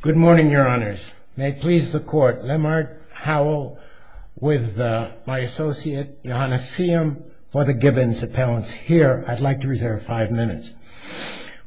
Good morning, your honors. May it please the court, Lamar Howell with my associate Johannes Siem for the Gibbons appellants here. I'd like to reserve five minutes.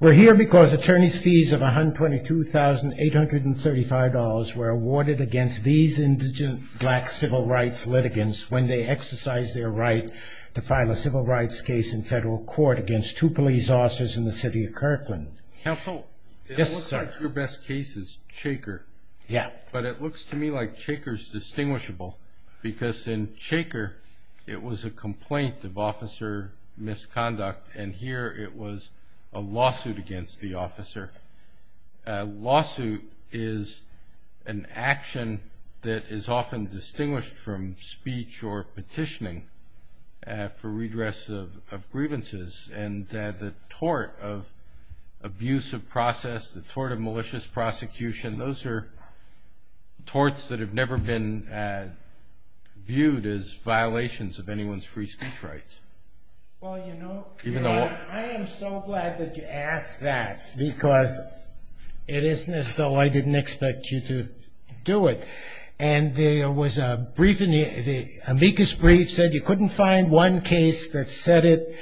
We're here because attorney's fees of $122,835 were awarded against these indigent black civil rights litigants when they exercised their right to file a civil rights case in federal court against two police officers in the city of Kirkland. Counsel. Yes, sir. Your best cases shaker. Yeah, but it looks to me like shakers distinguishable because in shaker it was a complaint of officer misconduct and here it was a lawsuit against the officer. Lawsuit is an action that is often distinguished from speech or petitioning for redress of grievances and the tort of abusive process, the tort of malicious prosecution. Those are torts that have never been viewed as violations of anyone's free speech rights. Well, you know, even though I am so glad that you asked that because it isn't as though I didn't expect you to do it. And there was a brief in the amicus brief said you couldn't find one case that said it.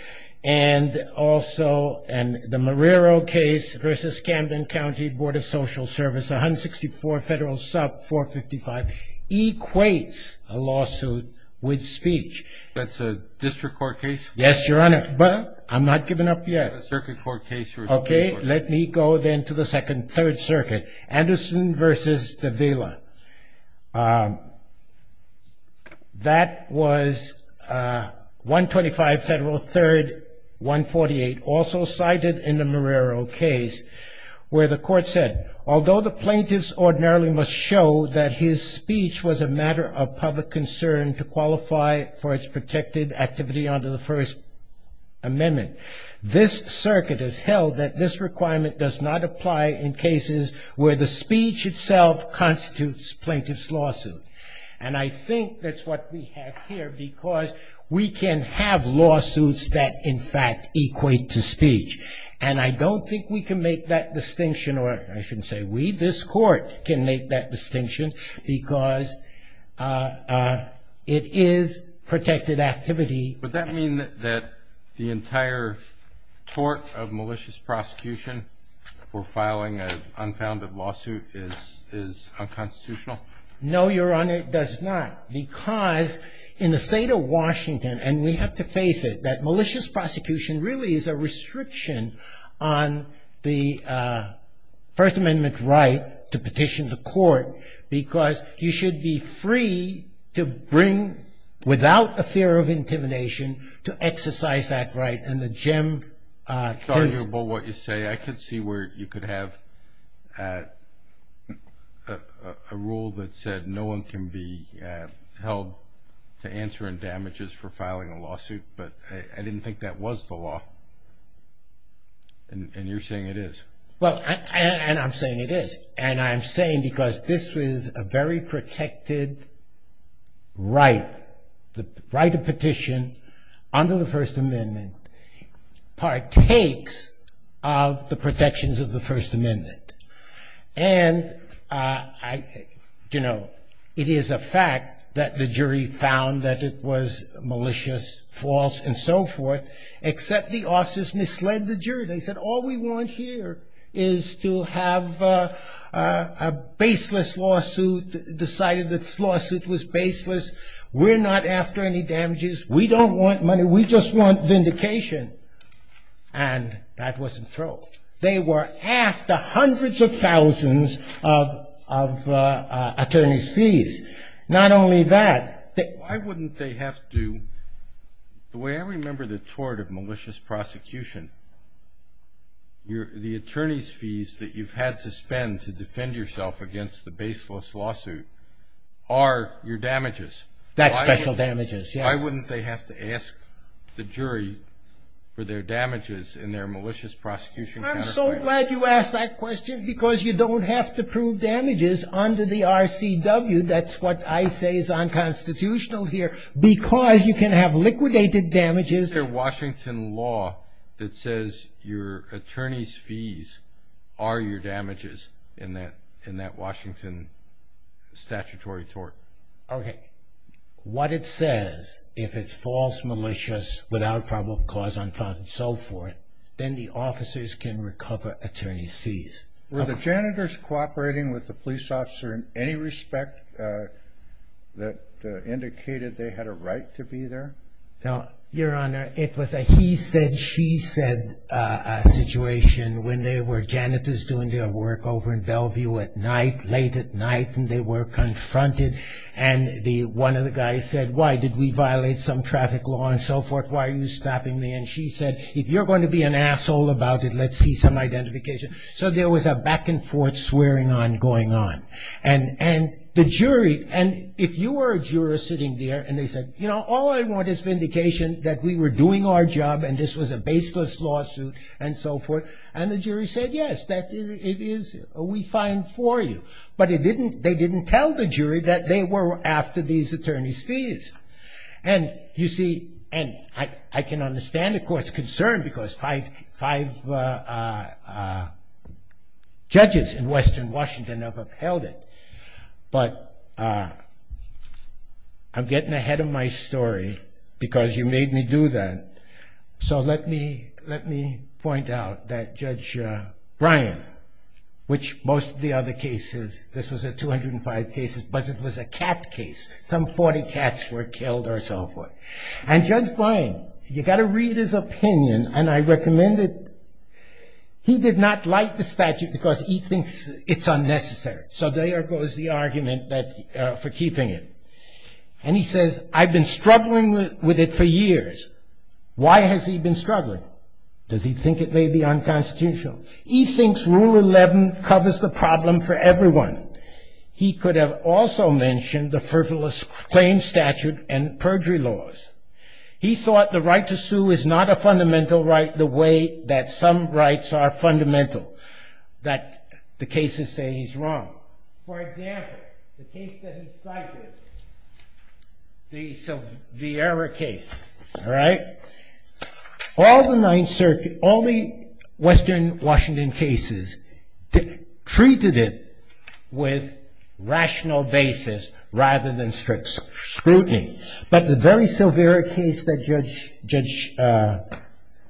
And also, and the Marrero case versus Camden County Board of Social Service 164 federal sub 455 equates a lawsuit with speech. That's a district court case. Yes, your honor. But I'm not giving up yet. Circuit court case. Okay, let me go then to the second third circuit. Anderson versus the villa. That was one twenty five federal third one forty eight also cited in the Marrero case where the court said although the plaintiffs ordinarily must show that his speech was a matter of public concern to qualify for its protected activity under the first amendment. This circuit has held that this requirement does not apply in cases where the speech itself constitutes plaintiff's lawsuit. And I think that's what we have here because we can have lawsuits that in fact equate to speech. And I don't think we can make that distinction or I shouldn't say we, this court can make that distinction because it is protected activity. But that mean that the entire tort of malicious prosecution for filing an unfounded lawsuit is is unconstitutional. No, your honor, it does not. Because in the state of Washington, and we have to face it, that malicious prosecution really is a restriction on the first amendment right to petition the court because you should be free to bring without a fear of intimidation. To exercise that right and the gem. What you say, I could see where you could have a rule that said no one can be held to answer and damages for filing a lawsuit. But I didn't think that was the law. And you're saying it is. They said all we want here is to have a baseless lawsuit, decided this lawsuit was baseless. We're not after any damages. We don't want money. We just want vindication. And that wasn't true. They were after hundreds of thousands of attorney's fees. Not only that. Why wouldn't they have to, the way I remember the tort of malicious prosecution, the attorney's fees that you've had to spend to defend yourself against the baseless lawsuit are your damages. That's special damages. Why wouldn't they have to ask the jury for their damages in their malicious prosecution? I'm so glad you asked that question because you don't have to prove damages under the RCW. That's what I say is unconstitutional here because you can have liquidated damages. Is there Washington law that says your attorney's fees are your damages in that Washington statutory tort? What it says, if it's false, malicious, without probable cause, unfound and so forth, then the officers can recover attorney's fees. Were the janitors cooperating with the police officer in any respect that indicated they had a right to be there? Your Honor, it was a he said, she said situation when there were janitors doing their work over in Bellevue at night, late at night, and they were confronted. And one of the guys said, why did we violate some traffic law and so forth? Why are you stopping me? And she said, if you're going to be an asshole about it, let's see some identification. So there was a back and forth swearing on going on. And and the jury and if you were a juror sitting there and they said, you know, all I want is vindication that we were doing our job and this was a baseless lawsuit and so forth. And the jury said, yes, that it is we find for you. But it didn't they didn't tell the jury that they were after these attorney's fees. And you see, and I can understand, of course, concern because five five judges in western Washington have upheld it. But I'm getting ahead of my story because you made me do that. So let me let me point out that Judge Brian, which most of the other cases, this was a 205 cases, but it was a cat case. Some 40 cats were killed or so forth. And Judge Brian, you got to read his opinion. And I recommend it. He did not like the statute because he thinks it's unnecessary. So there goes the argument that for keeping it. And he says, I've been struggling with it for years. Why has he been struggling? Does he think it may be unconstitutional? He thinks Rule 11 covers the problem for everyone. He could have also mentioned the frivolous claim statute and perjury laws. He thought the right to sue is not a fundamental right the way that some rights are fundamental. That the cases say he's wrong. For example, the case that he cited. So the error case. All right. Treated it with rational basis rather than strict scrutiny. But the very severe case that Judge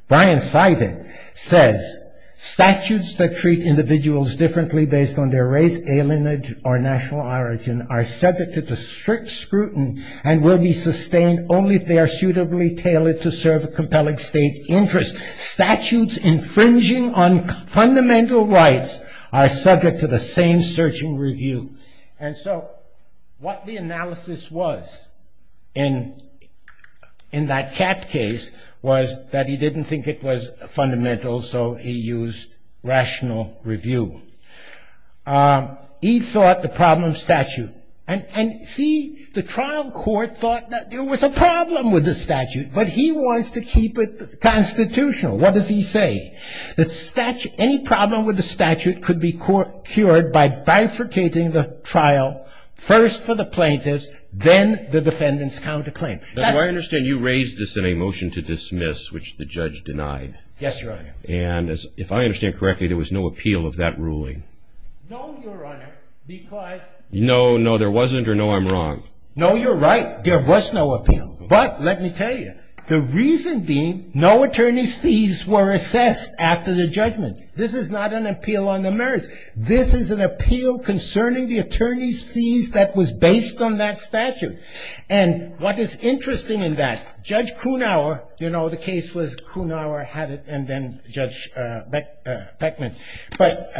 Brian cited says, statutes that treat individuals differently based on their race, alienage, or national origin are subject to strict scrutiny and will be sustained only if they are suitably tailored to serve a compelling state interest. Statutes infringing on fundamental rights are subject to the same search and review. And so what the analysis was in that Catt case was that he didn't think it was fundamental. So he used rational review. He thought the problem statute. And see, the trial court thought that there was a problem with the statute. But he wants to keep it constitutional. What does he say? That any problem with the statute could be cured by bifurcating the trial first for the plaintiffs, then the defendant's counterclaim. I understand you raised this in a motion to dismiss, which the judge denied. Yes, Your Honor. And if I understand correctly, there was no appeal of that ruling. No, Your Honor, because. No, no, there wasn't, or no, I'm wrong. No, you're right. There was no appeal. But let me tell you, the reason being no attorney's fees were assessed after the judgment. This is not an appeal on the merits. This is an appeal concerning the attorney's fees that was based on that statute. And what is interesting in that, Judge Kuhnauer, you know, the case was Kuhnauer had it and then Judge Beckman. But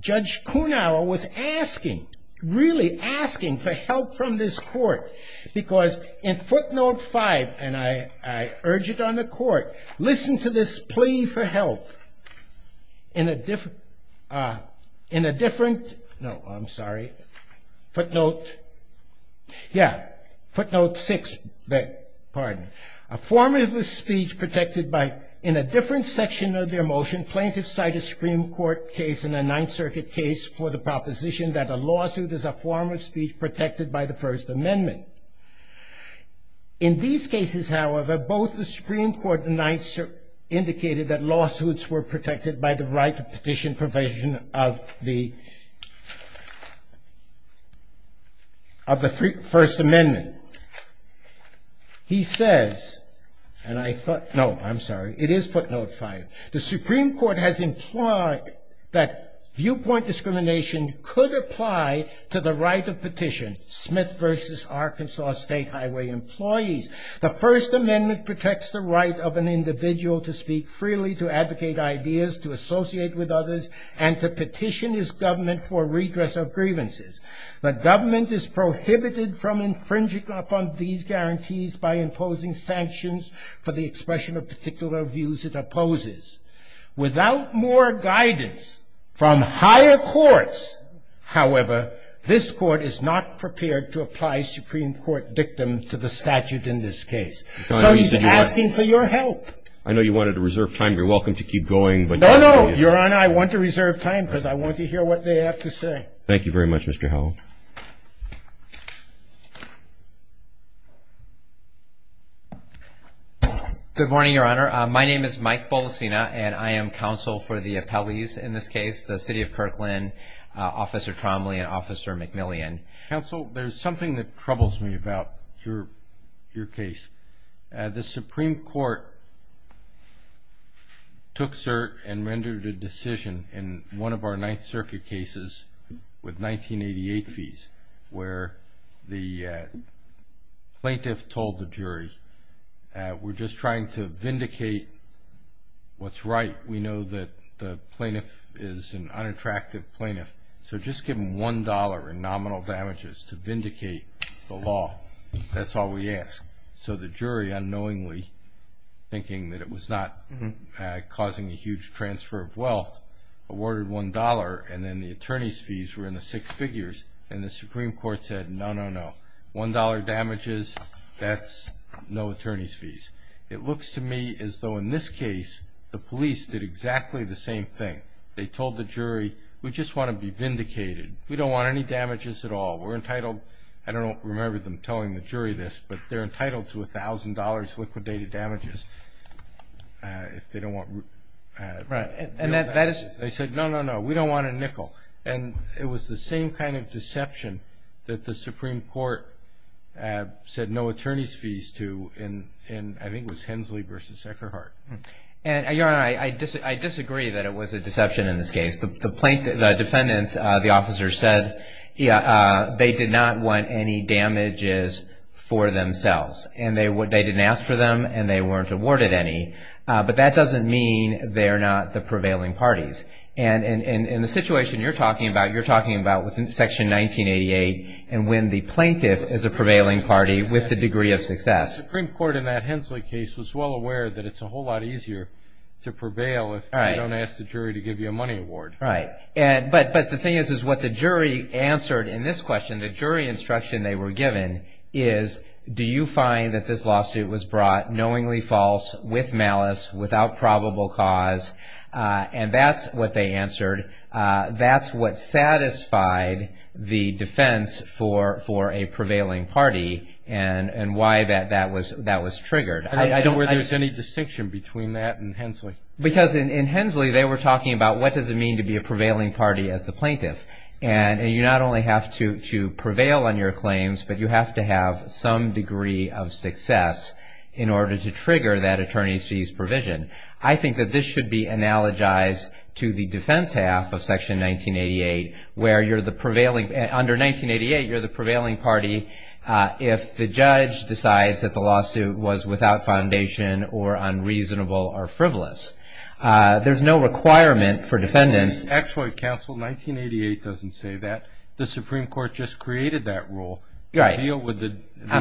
Judge Kuhnauer was asking, really asking for help from this court. Because in footnote five, and I urge it on the court, listen to this plea for help. In a different, no, I'm sorry. Footnote, yeah, footnote six, pardon. A form of speech protected by, in a different section of their motion, plaintiffs cite a Supreme Court case and a Ninth Circuit case for the proposition that a lawsuit is a form of speech protected by the First Amendment. In these cases, however, both the Supreme Court and Ninth Circuit indicated that lawsuits were protected by the right to petition provision of the First Amendment. He says, and I thought, no, I'm sorry, it is footnote five. The Supreme Court has implied that viewpoint discrimination could apply to the right of petition, Smith v. Arkansas State Highway employees. The First Amendment protects the right of an individual to speak freely, to advocate ideas, to associate with others, and to petition his government for redress of grievances. The government is prohibited from infringing upon these guarantees by imposing sanctions for the expression of particular views it opposes. Without more guidance from higher courts, however, this court is not prepared to apply Supreme Court dictum to the statute in this case. So he's asking for your help. I know you wanted to reserve time. You're welcome to keep going. No, no, Your Honor, I want to reserve time because I want to hear what they have to say. Thank you very much, Mr. Howell. Good morning, Your Honor. My name is Mike Bolasina, and I am counsel for the appellees in this case, the City of Kirkland, Officer Tromley, and Officer McMillian. Counsel, there's something that troubles me about your case. The Supreme Court took cert and rendered a decision in one of our Ninth Circuit cases with 1988 fees where the plaintiff told the jury, we're just trying to vindicate what's right. We know that the plaintiff is an unattractive plaintiff, so just give them $1 in nominal damages to vindicate the law. That's all we ask. So the jury unknowingly, thinking that it was not causing a huge transfer of wealth, awarded $1, and then the attorney's fees were in the six figures, and the Supreme Court said, no, no, no, $1 damages, that's no attorney's fees. It looks to me as though in this case the police did exactly the same thing. They told the jury, we just want to be vindicated. We don't want any damages at all. We're entitled, I don't remember them telling the jury this, but they're entitled to $1,000 liquidated damages if they don't want real damages. They said, no, no, no, we don't want a nickel. And it was the same kind of deception that the Supreme Court said no attorney's fees to, and I think it was Hensley v. Eckerhart. Your Honor, I disagree that it was a deception in this case. The plaintiff, the defendants, the officer said they did not want any damages for themselves, and they didn't ask for them, and they weren't awarded any, but that doesn't mean they're not the prevailing parties. And in the situation you're talking about, you're talking about Section 1988 and when the plaintiff is a prevailing party with the degree of success. The Supreme Court in that Hensley case was well aware that it's a whole lot easier to prevail if you don't ask the jury to give you a money award. Right. But the thing is, is what the jury answered in this question, the jury instruction they were given, is do you find that this lawsuit was brought knowingly false, with malice, without probable cause? And that's what they answered. That's what satisfied the defense for a prevailing party and why that was triggered. I don't think there's any distinction between that and Hensley. Because in Hensley they were talking about what does it mean to be a prevailing party as the plaintiff. And you not only have to prevail on your claims, but you have to have some degree of success in order to trigger that attorney's fees provision. I think that this should be analogized to the defense half of Section 1988, where you're the prevailing, under 1988 you're the prevailing party if the judge decides that the lawsuit was without foundation or unreasonable or frivolous. There's no requirement for defendants. Actually, counsel, 1988 doesn't say that. The Supreme Court just created that rule. I'm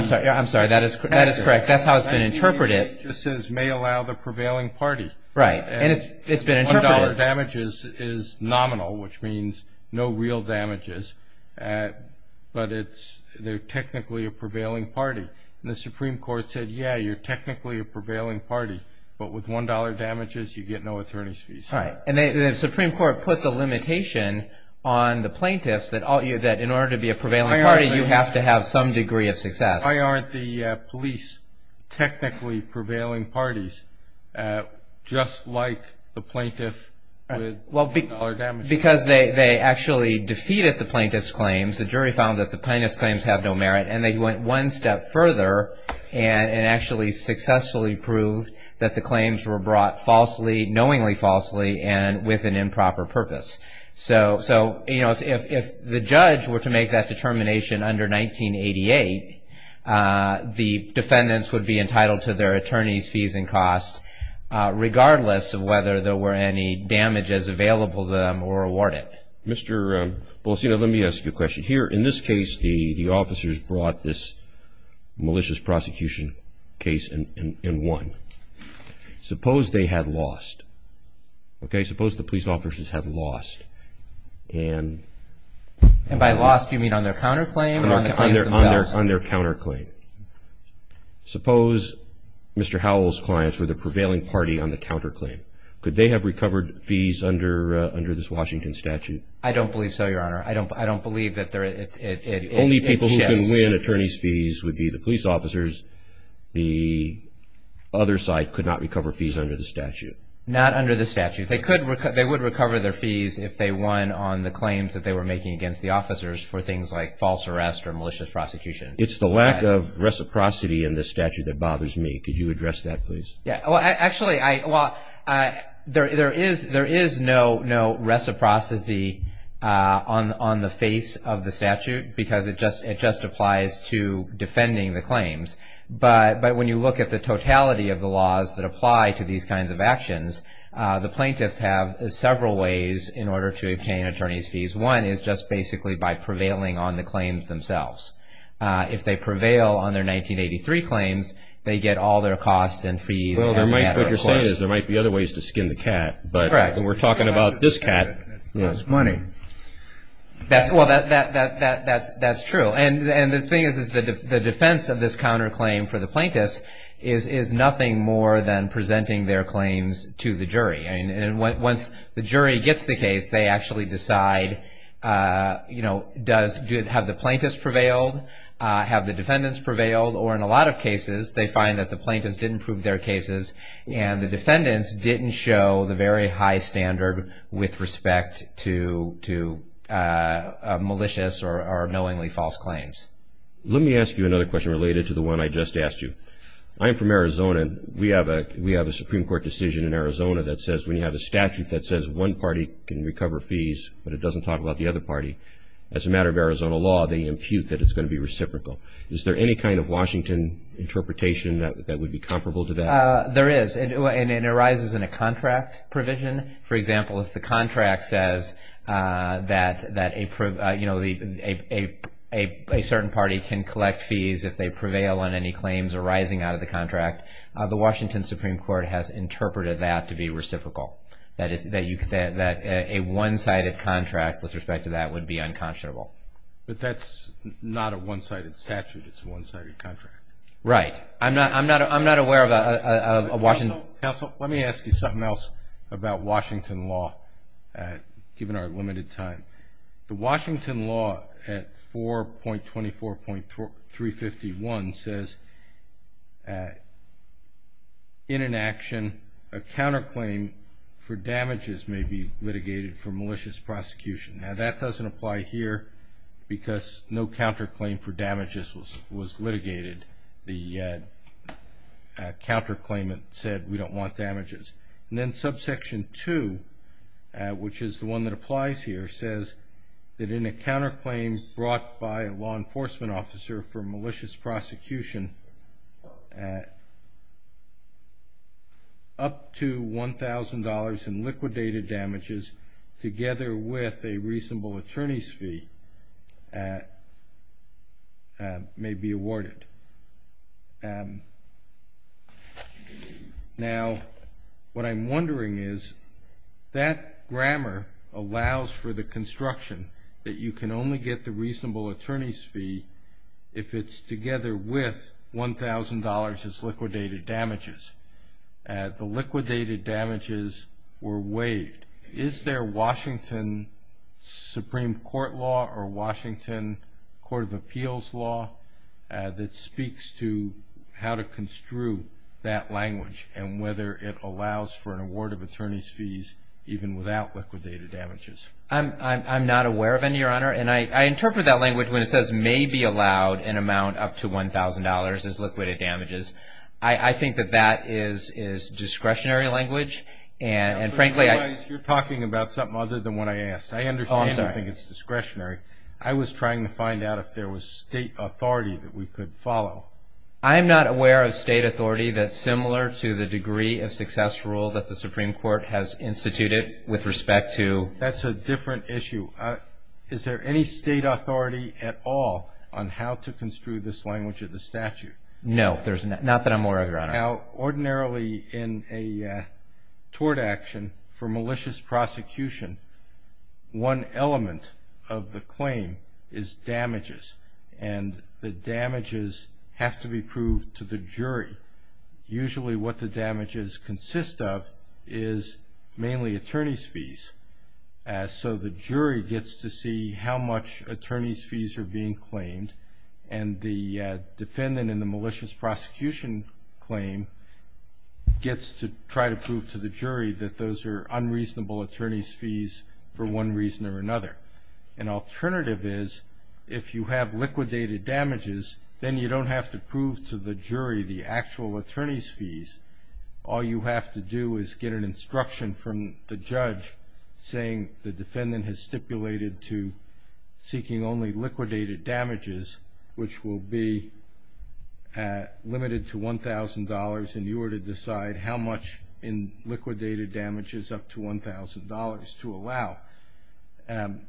sorry, that is correct. That's how it's been interpreted. 1988 just says may allow the prevailing party. Right. And it's been interpreted. One dollar damages is nominal, which means no real damages. But they're technically a prevailing party. And the Supreme Court said, yeah, you're technically a prevailing party. But with one dollar damages you get no attorney's fees. Right. And the Supreme Court put the limitation on the plaintiffs that in order to be a prevailing party you have to have some degree of success. Why aren't the police technically prevailing parties just like the plaintiff with one dollar damages? Because they actually defeated the plaintiff's claims. The jury found that the plaintiff's claims have no merit. And they went one step further and actually successfully proved that the claims were brought falsely, knowingly falsely, and with an improper purpose. So, you know, if the judge were to make that determination under 1988, the defendants would be entitled to their attorney's fees and costs, regardless of whether there were any damages available to them or awarded. Mr. Policino, let me ask you a question. Here, in this case, the officers brought this malicious prosecution case and won. Suppose they had lost. Okay? Suppose the police officers had lost. And by lost you mean on their counterclaim or on their claims themselves? On their counterclaim. Suppose Mr. Howell's clients were the prevailing party on the counterclaim. Could they have recovered fees under this Washington statute? I don't believe so, Your Honor. I don't believe that it shifts. The only people who can win attorney's fees would be the police officers. The other side could not recover fees under the statute. Not under the statute. They would recover their fees if they won on the claims that they were making against the officers for things like false arrest or malicious prosecution. It's the lack of reciprocity in this statute that bothers me. Could you address that, please? Actually, there is no reciprocity on the face of the statute because it just applies to defending the claims. But when you look at the totality of the laws that apply to these kinds of actions, the plaintiffs have several ways in order to obtain attorney's fees. One is just basically by prevailing on the claims themselves. If they prevail on their 1983 claims, they get all their costs and fees as a matter of course. What you're saying is there might be other ways to skin the cat. Correct. We're talking about this cat. That's money. Well, that's true. And the thing is the defense of this counterclaim for the plaintiffs is nothing more than presenting their claims to the jury. Once the jury gets the case, they actually decide have the plaintiffs prevailed, have the defendants prevailed, or in a lot of cases they find that the plaintiffs didn't prove their cases and the defendants didn't show the very high standard with respect to malicious or knowingly false claims. Let me ask you another question related to the one I just asked you. I am from Arizona. We have a Supreme Court decision in Arizona that says when you have a statute that says one party can recover fees but it doesn't talk about the other party, as a matter of Arizona law, they impute that it's going to be reciprocal. Is there any kind of Washington interpretation that would be comparable to that? There is, and it arises in a contract provision. For example, if the contract says that a certain party can collect fees if they prevail on any claims arising out of the contract, the Washington Supreme Court has interpreted that to be reciprocal, that a one-sided contract with respect to that would be unconscionable. But that's not a one-sided statute. It's a one-sided contract. Right. I'm not aware of a Washington… Counsel, let me ask you something else about Washington law, given our limited time. The Washington law at 4.24.351 says in an action a counterclaim for damages may be litigated for malicious prosecution. Now, that doesn't apply here because no counterclaim for damages was litigated. The counterclaimant said we don't want damages. And then Subsection 2, which is the one that applies here, says that in a counterclaim brought by a law enforcement officer for malicious prosecution, up to $1,000 in liquidated damages together with a reasonable attorney's fee may be awarded. Now, what I'm wondering is that grammar allows for the construction that you can only get the reasonable attorney's fee if it's together with $1,000 as liquidated damages. The liquidated damages were waived. Is there Washington Supreme Court law or Washington Court of Appeals law that speaks to how to construe that language and whether it allows for an award of attorney's fees even without liquidated damages? I'm not aware of any, Your Honor. And I interpret that language when it says may be allowed an amount up to $1,000 as liquidated damages. I think that that is discretionary language. And frankly, I I realize you're talking about something other than what I asked. I understand you think it's discretionary. I was trying to find out if there was state authority that we could follow. I'm not aware of state authority that's similar to the degree of success rule that the Supreme Court has instituted with respect to That's a different issue. Is there any state authority at all on how to construe this language of the statute? No. Not that I'm aware of, Your Honor. Now, ordinarily in a tort action for malicious prosecution, one element of the claim is damages. And the damages have to be proved to the jury. Usually what the damages consist of is mainly attorney's fees. So the jury gets to see how much attorney's fees are being claimed. And the defendant in the malicious prosecution claim gets to try to prove to the jury that those are unreasonable attorney's fees for one reason or another. An alternative is if you have liquidated damages, then you don't have to prove to the jury the actual attorney's fees. All you have to do is get an instruction from the judge saying the defendant has which will be limited to $1,000, and you are to decide how much in liquidated damages up to $1,000 to allow. And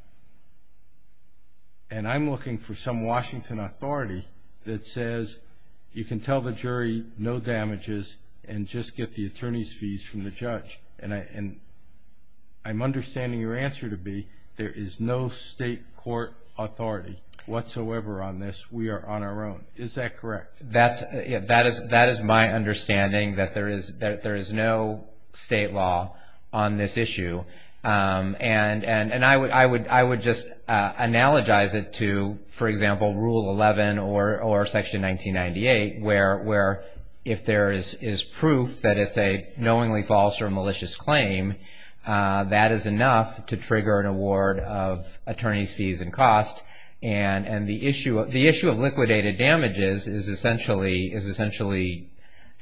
I'm looking for some Washington authority that says you can tell the jury no damages and just get the attorney's fees from the judge. And I'm understanding your answer to be there is no state court authority whatsoever on this. We are on our own. Is that correct? That is my understanding, that there is no state law on this issue. And I would just analogize it to, for example, Rule 11 or Section 1998, where if there is proof that it's a knowingly false or malicious claim, that is enough to trigger an award of attorney's fees and cost. And the issue of liquidated damages is essentially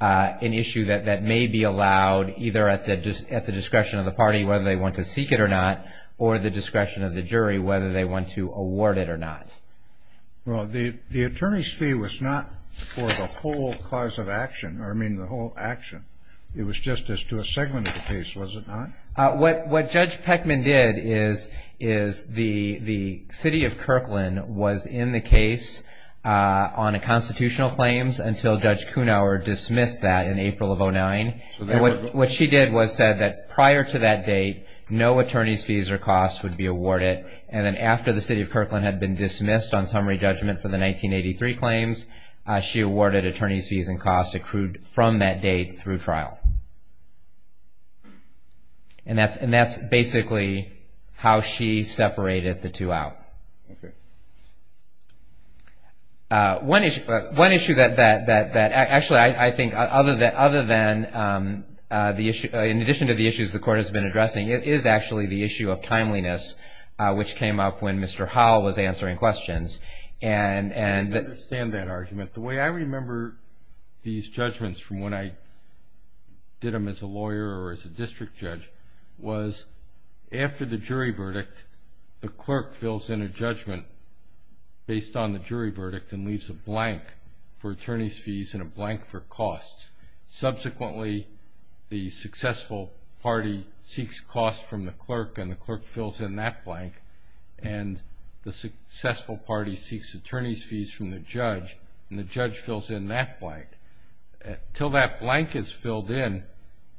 an issue that may be allowed, either at the discretion of the party, whether they want to seek it or not, or the discretion of the jury, whether they want to award it or not. Well, the attorney's fee was not for the whole cause of action, or I mean the whole action. It was just as to a segment of the case, was it not? What Judge Peckman did is the city of Kirkland was in the case on constitutional claims until Judge Kunauer dismissed that in April of 2009. What she did was said that prior to that date, no attorney's fees or costs would be awarded. And then after the city of Kirkland had been dismissed on summary judgment for the 1983 claims, she awarded attorney's fees and costs accrued from that date through trial. And that's basically how she separated the two out. One issue that actually I think other than the issue, in addition to the issues the Court has been addressing, it is actually the issue of timeliness, which came up when Mr. Howell was answering questions. I understand that argument. The way I remember these judgments from when I did them as a lawyer or as a district judge was after the jury verdict, the clerk fills in a judgment based on the jury verdict Subsequently, the successful party seeks costs from the clerk, and the clerk fills in that blank. And the successful party seeks attorney's fees from the judge, and the judge fills in that blank. Until that blank is filled in,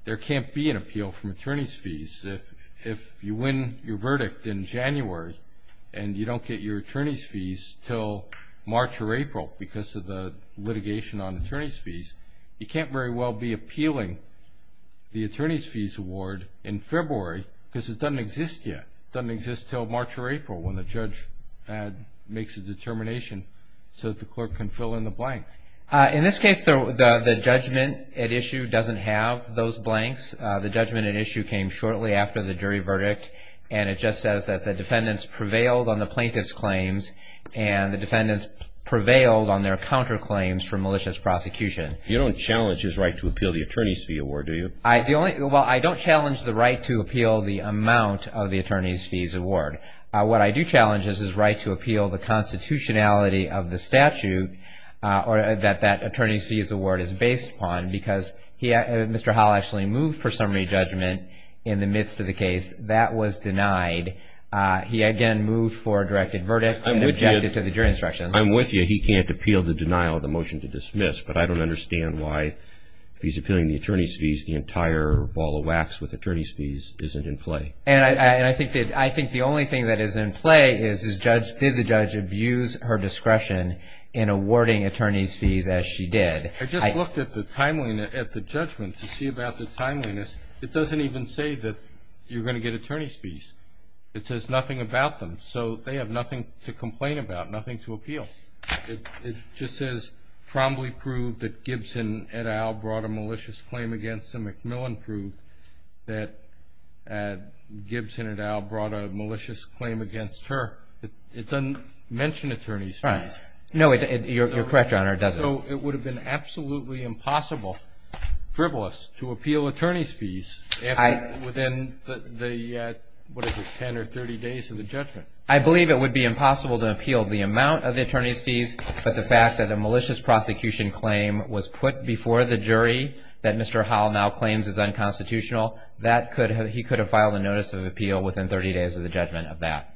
there can't be an appeal from attorney's fees. If you win your verdict in January and you don't get your attorney's fees until March or April because of the litigation on attorney's fees, you can't very well be appealing the attorney's fees award in February because it doesn't exist yet. It doesn't exist until March or April when the judge makes a determination so that the clerk can fill in the blank. In this case, the judgment at issue doesn't have those blanks. The judgment at issue came shortly after the jury verdict, and it just says that the defendants prevailed on the plaintiff's claims, and the defendants prevailed on their counterclaims for malicious prosecution. You don't challenge his right to appeal the attorney's fee award, do you? Well, I don't challenge the right to appeal the amount of the attorney's fees award. What I do challenge is his right to appeal the constitutionality of the statute that that attorney's fees award is based upon, because Mr. Howell actually moved for summary judgment in the midst of the case. That was denied. He again moved for a directed verdict and objected to the jury instructions. I'm with you. He can't appeal the denial of the motion to dismiss, but I don't understand why if he's appealing the attorney's fees, the entire ball of wax with attorney's fees isn't in play. And I think the only thing that is in play is did the judge abuse her discretion in awarding attorney's fees as she did. I just looked at the judgment to see about the timeliness. It doesn't even say that you're going to get attorney's fees. It says nothing about them, so they have nothing to complain about, nothing to appeal. It just says, Trombly proved that Gibson et al. brought a malicious claim against him. McMillan proved that Gibson et al. brought a malicious claim against her. It doesn't mention attorney's fees. No, you're correct, Your Honor, it doesn't. So it would have been absolutely impossible, frivolous, to appeal attorney's fees within the, what is it, 10 or 30 days of the judgment? I believe it would be impossible to appeal the amount of the attorney's fees, but the fact that a malicious prosecution claim was put before the jury that Mr. Howell now claims is unconstitutional, he could have filed a notice of appeal within 30 days of the judgment of that.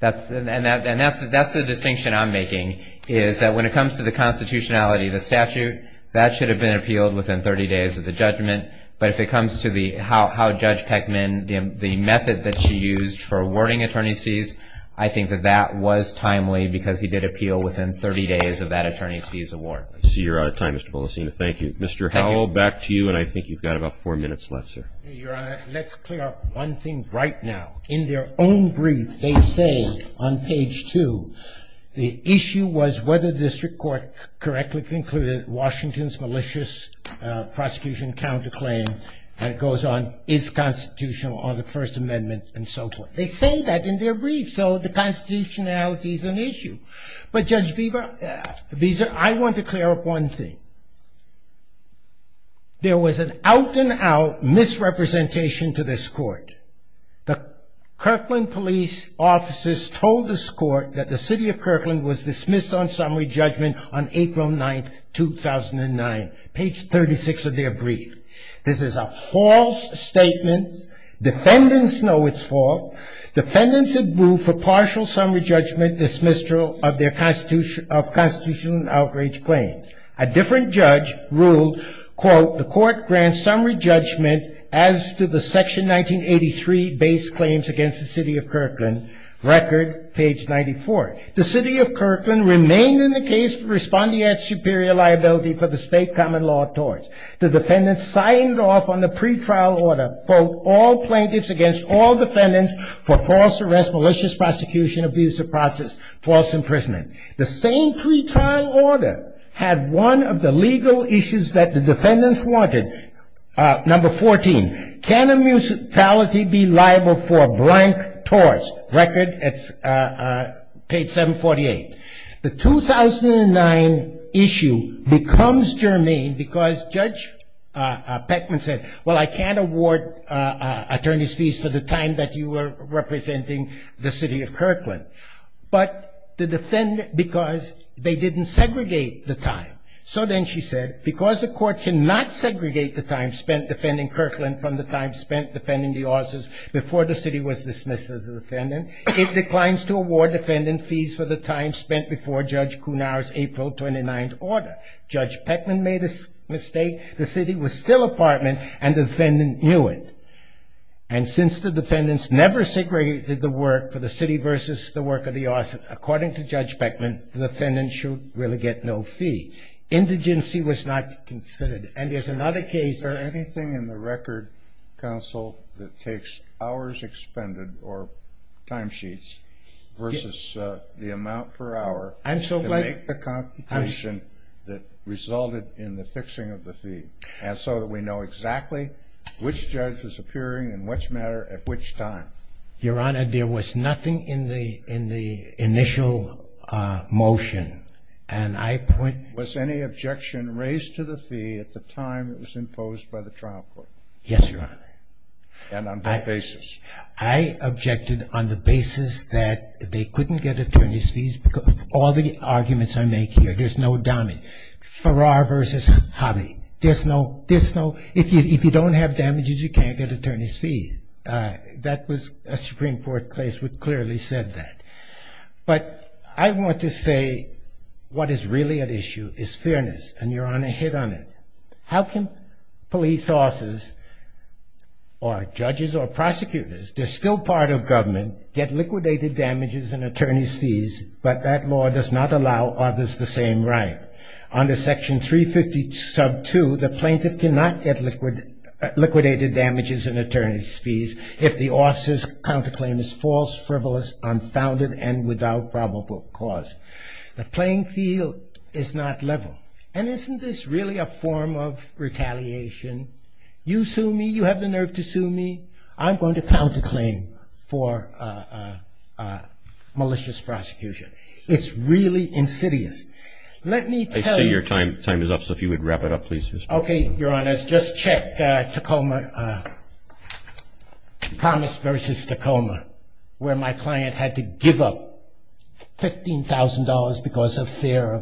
And that's the distinction I'm making, is that when it comes to the constitutionality of the statute, that should have been appealed within 30 days of the judgment. But if it comes to how Judge Peckman, the method that she used for awarding attorney's fees, I think that that was timely because he did appeal within 30 days of that attorney's fees award. I see you're out of time, Mr. Polisseni. Thank you. Thank you. Mr. Howell, back to you, and I think you've got about four minutes left, sir. Your Honor, let's clear up one thing right now. In their own brief, they say on page two, the issue was whether the district court correctly concluded Washington's malicious prosecution counterclaim, and it goes on, is constitutional under the First Amendment, and so forth. They say that in their brief, so the constitutionality is an issue. But, Judge Beaver, I want to clear up one thing. There was an out-and-out misrepresentation to this court. The Kirkland police officers told this court that the city of Kirkland was dismissed on summary judgment on April 9, 2009, page 36 of their brief. This is a false statement. Defendants know it's false. Defendants have moved for partial summary judgment, dismissal of their constitutional outrage claims. A different judge ruled, quote, the court grants summary judgment as to the section 1983 base claims against the city of Kirkland, record, page 94. The city of Kirkland remained in the case for responding at superior liability for the state common law torts. The defendants signed off on the pretrial order, quote, all plaintiffs against all defendants for false arrest, malicious prosecution, abuse of process, false imprisonment. The same pretrial order had one of the legal issues that the defendants wanted, number 14, can a municipality be liable for blank torts, record, page 748. The 2009 issue becomes germane because Judge Beckman said, well, I can't award attorney's fees for the time that you were representing the city of Kirkland. But the defendant, because they didn't segregate the time, so then she said, because the court cannot segregate the time spent defending Kirkland from the time spent defending the officers before the city was dismissed as a defendant, it declines to award defendant fees for the time spent before Judge Cunar's April 29 order. Judge Beckman made a mistake. The city was still apartment, and the defendant knew it. And since the defendants never segregated the work for the city versus the work of the officer, according to Judge Beckman, the defendant should really get no fee. Indigency was not considered. And there's another case. Is there anything in the record, counsel, that takes hours expended or timesheets versus the amount per hour to make the competition that resulted in the fixing of the fee so that we know exactly which judge is appearing in which matter at which time? Your Honor, there was nothing in the initial motion. Was any objection raised to the fee at the time it was imposed by the trial court? Yes, Your Honor. And on what basis? I objected on the basis that they couldn't get attorney's fees because of all the arguments I make here. There's no dummy. Farrar versus Hobby. There's no, there's no, if you don't have damages, you can't get attorney's fees. That was a Supreme Court case which clearly said that. But I want to say what is really at issue is fairness, and Your Honor hit on it. How can police officers or judges or prosecutors, they're still part of government, get liquidated damages and attorney's fees, but that law does not allow others the same right? Under Section 350 sub 2, the plaintiff cannot get liquidated damages and attorney's fees if the officer's counterclaim is false, frivolous, unfounded, and without probable cause. The plain field is not level. And isn't this really a form of retaliation? You sue me. You have the nerve to sue me. I'm going to counterclaim for malicious prosecution. It's really insidious. Let me tell you. I see your time is up, so if you would wrap it up, please. Okay, Your Honor. Just check Tacoma, Promise versus Tacoma, where my client had to give up $15,000 because of fear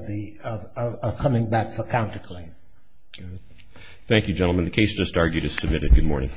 of coming back for counterclaim. Thank you, gentlemen. The case just argued is submitted. Good morning.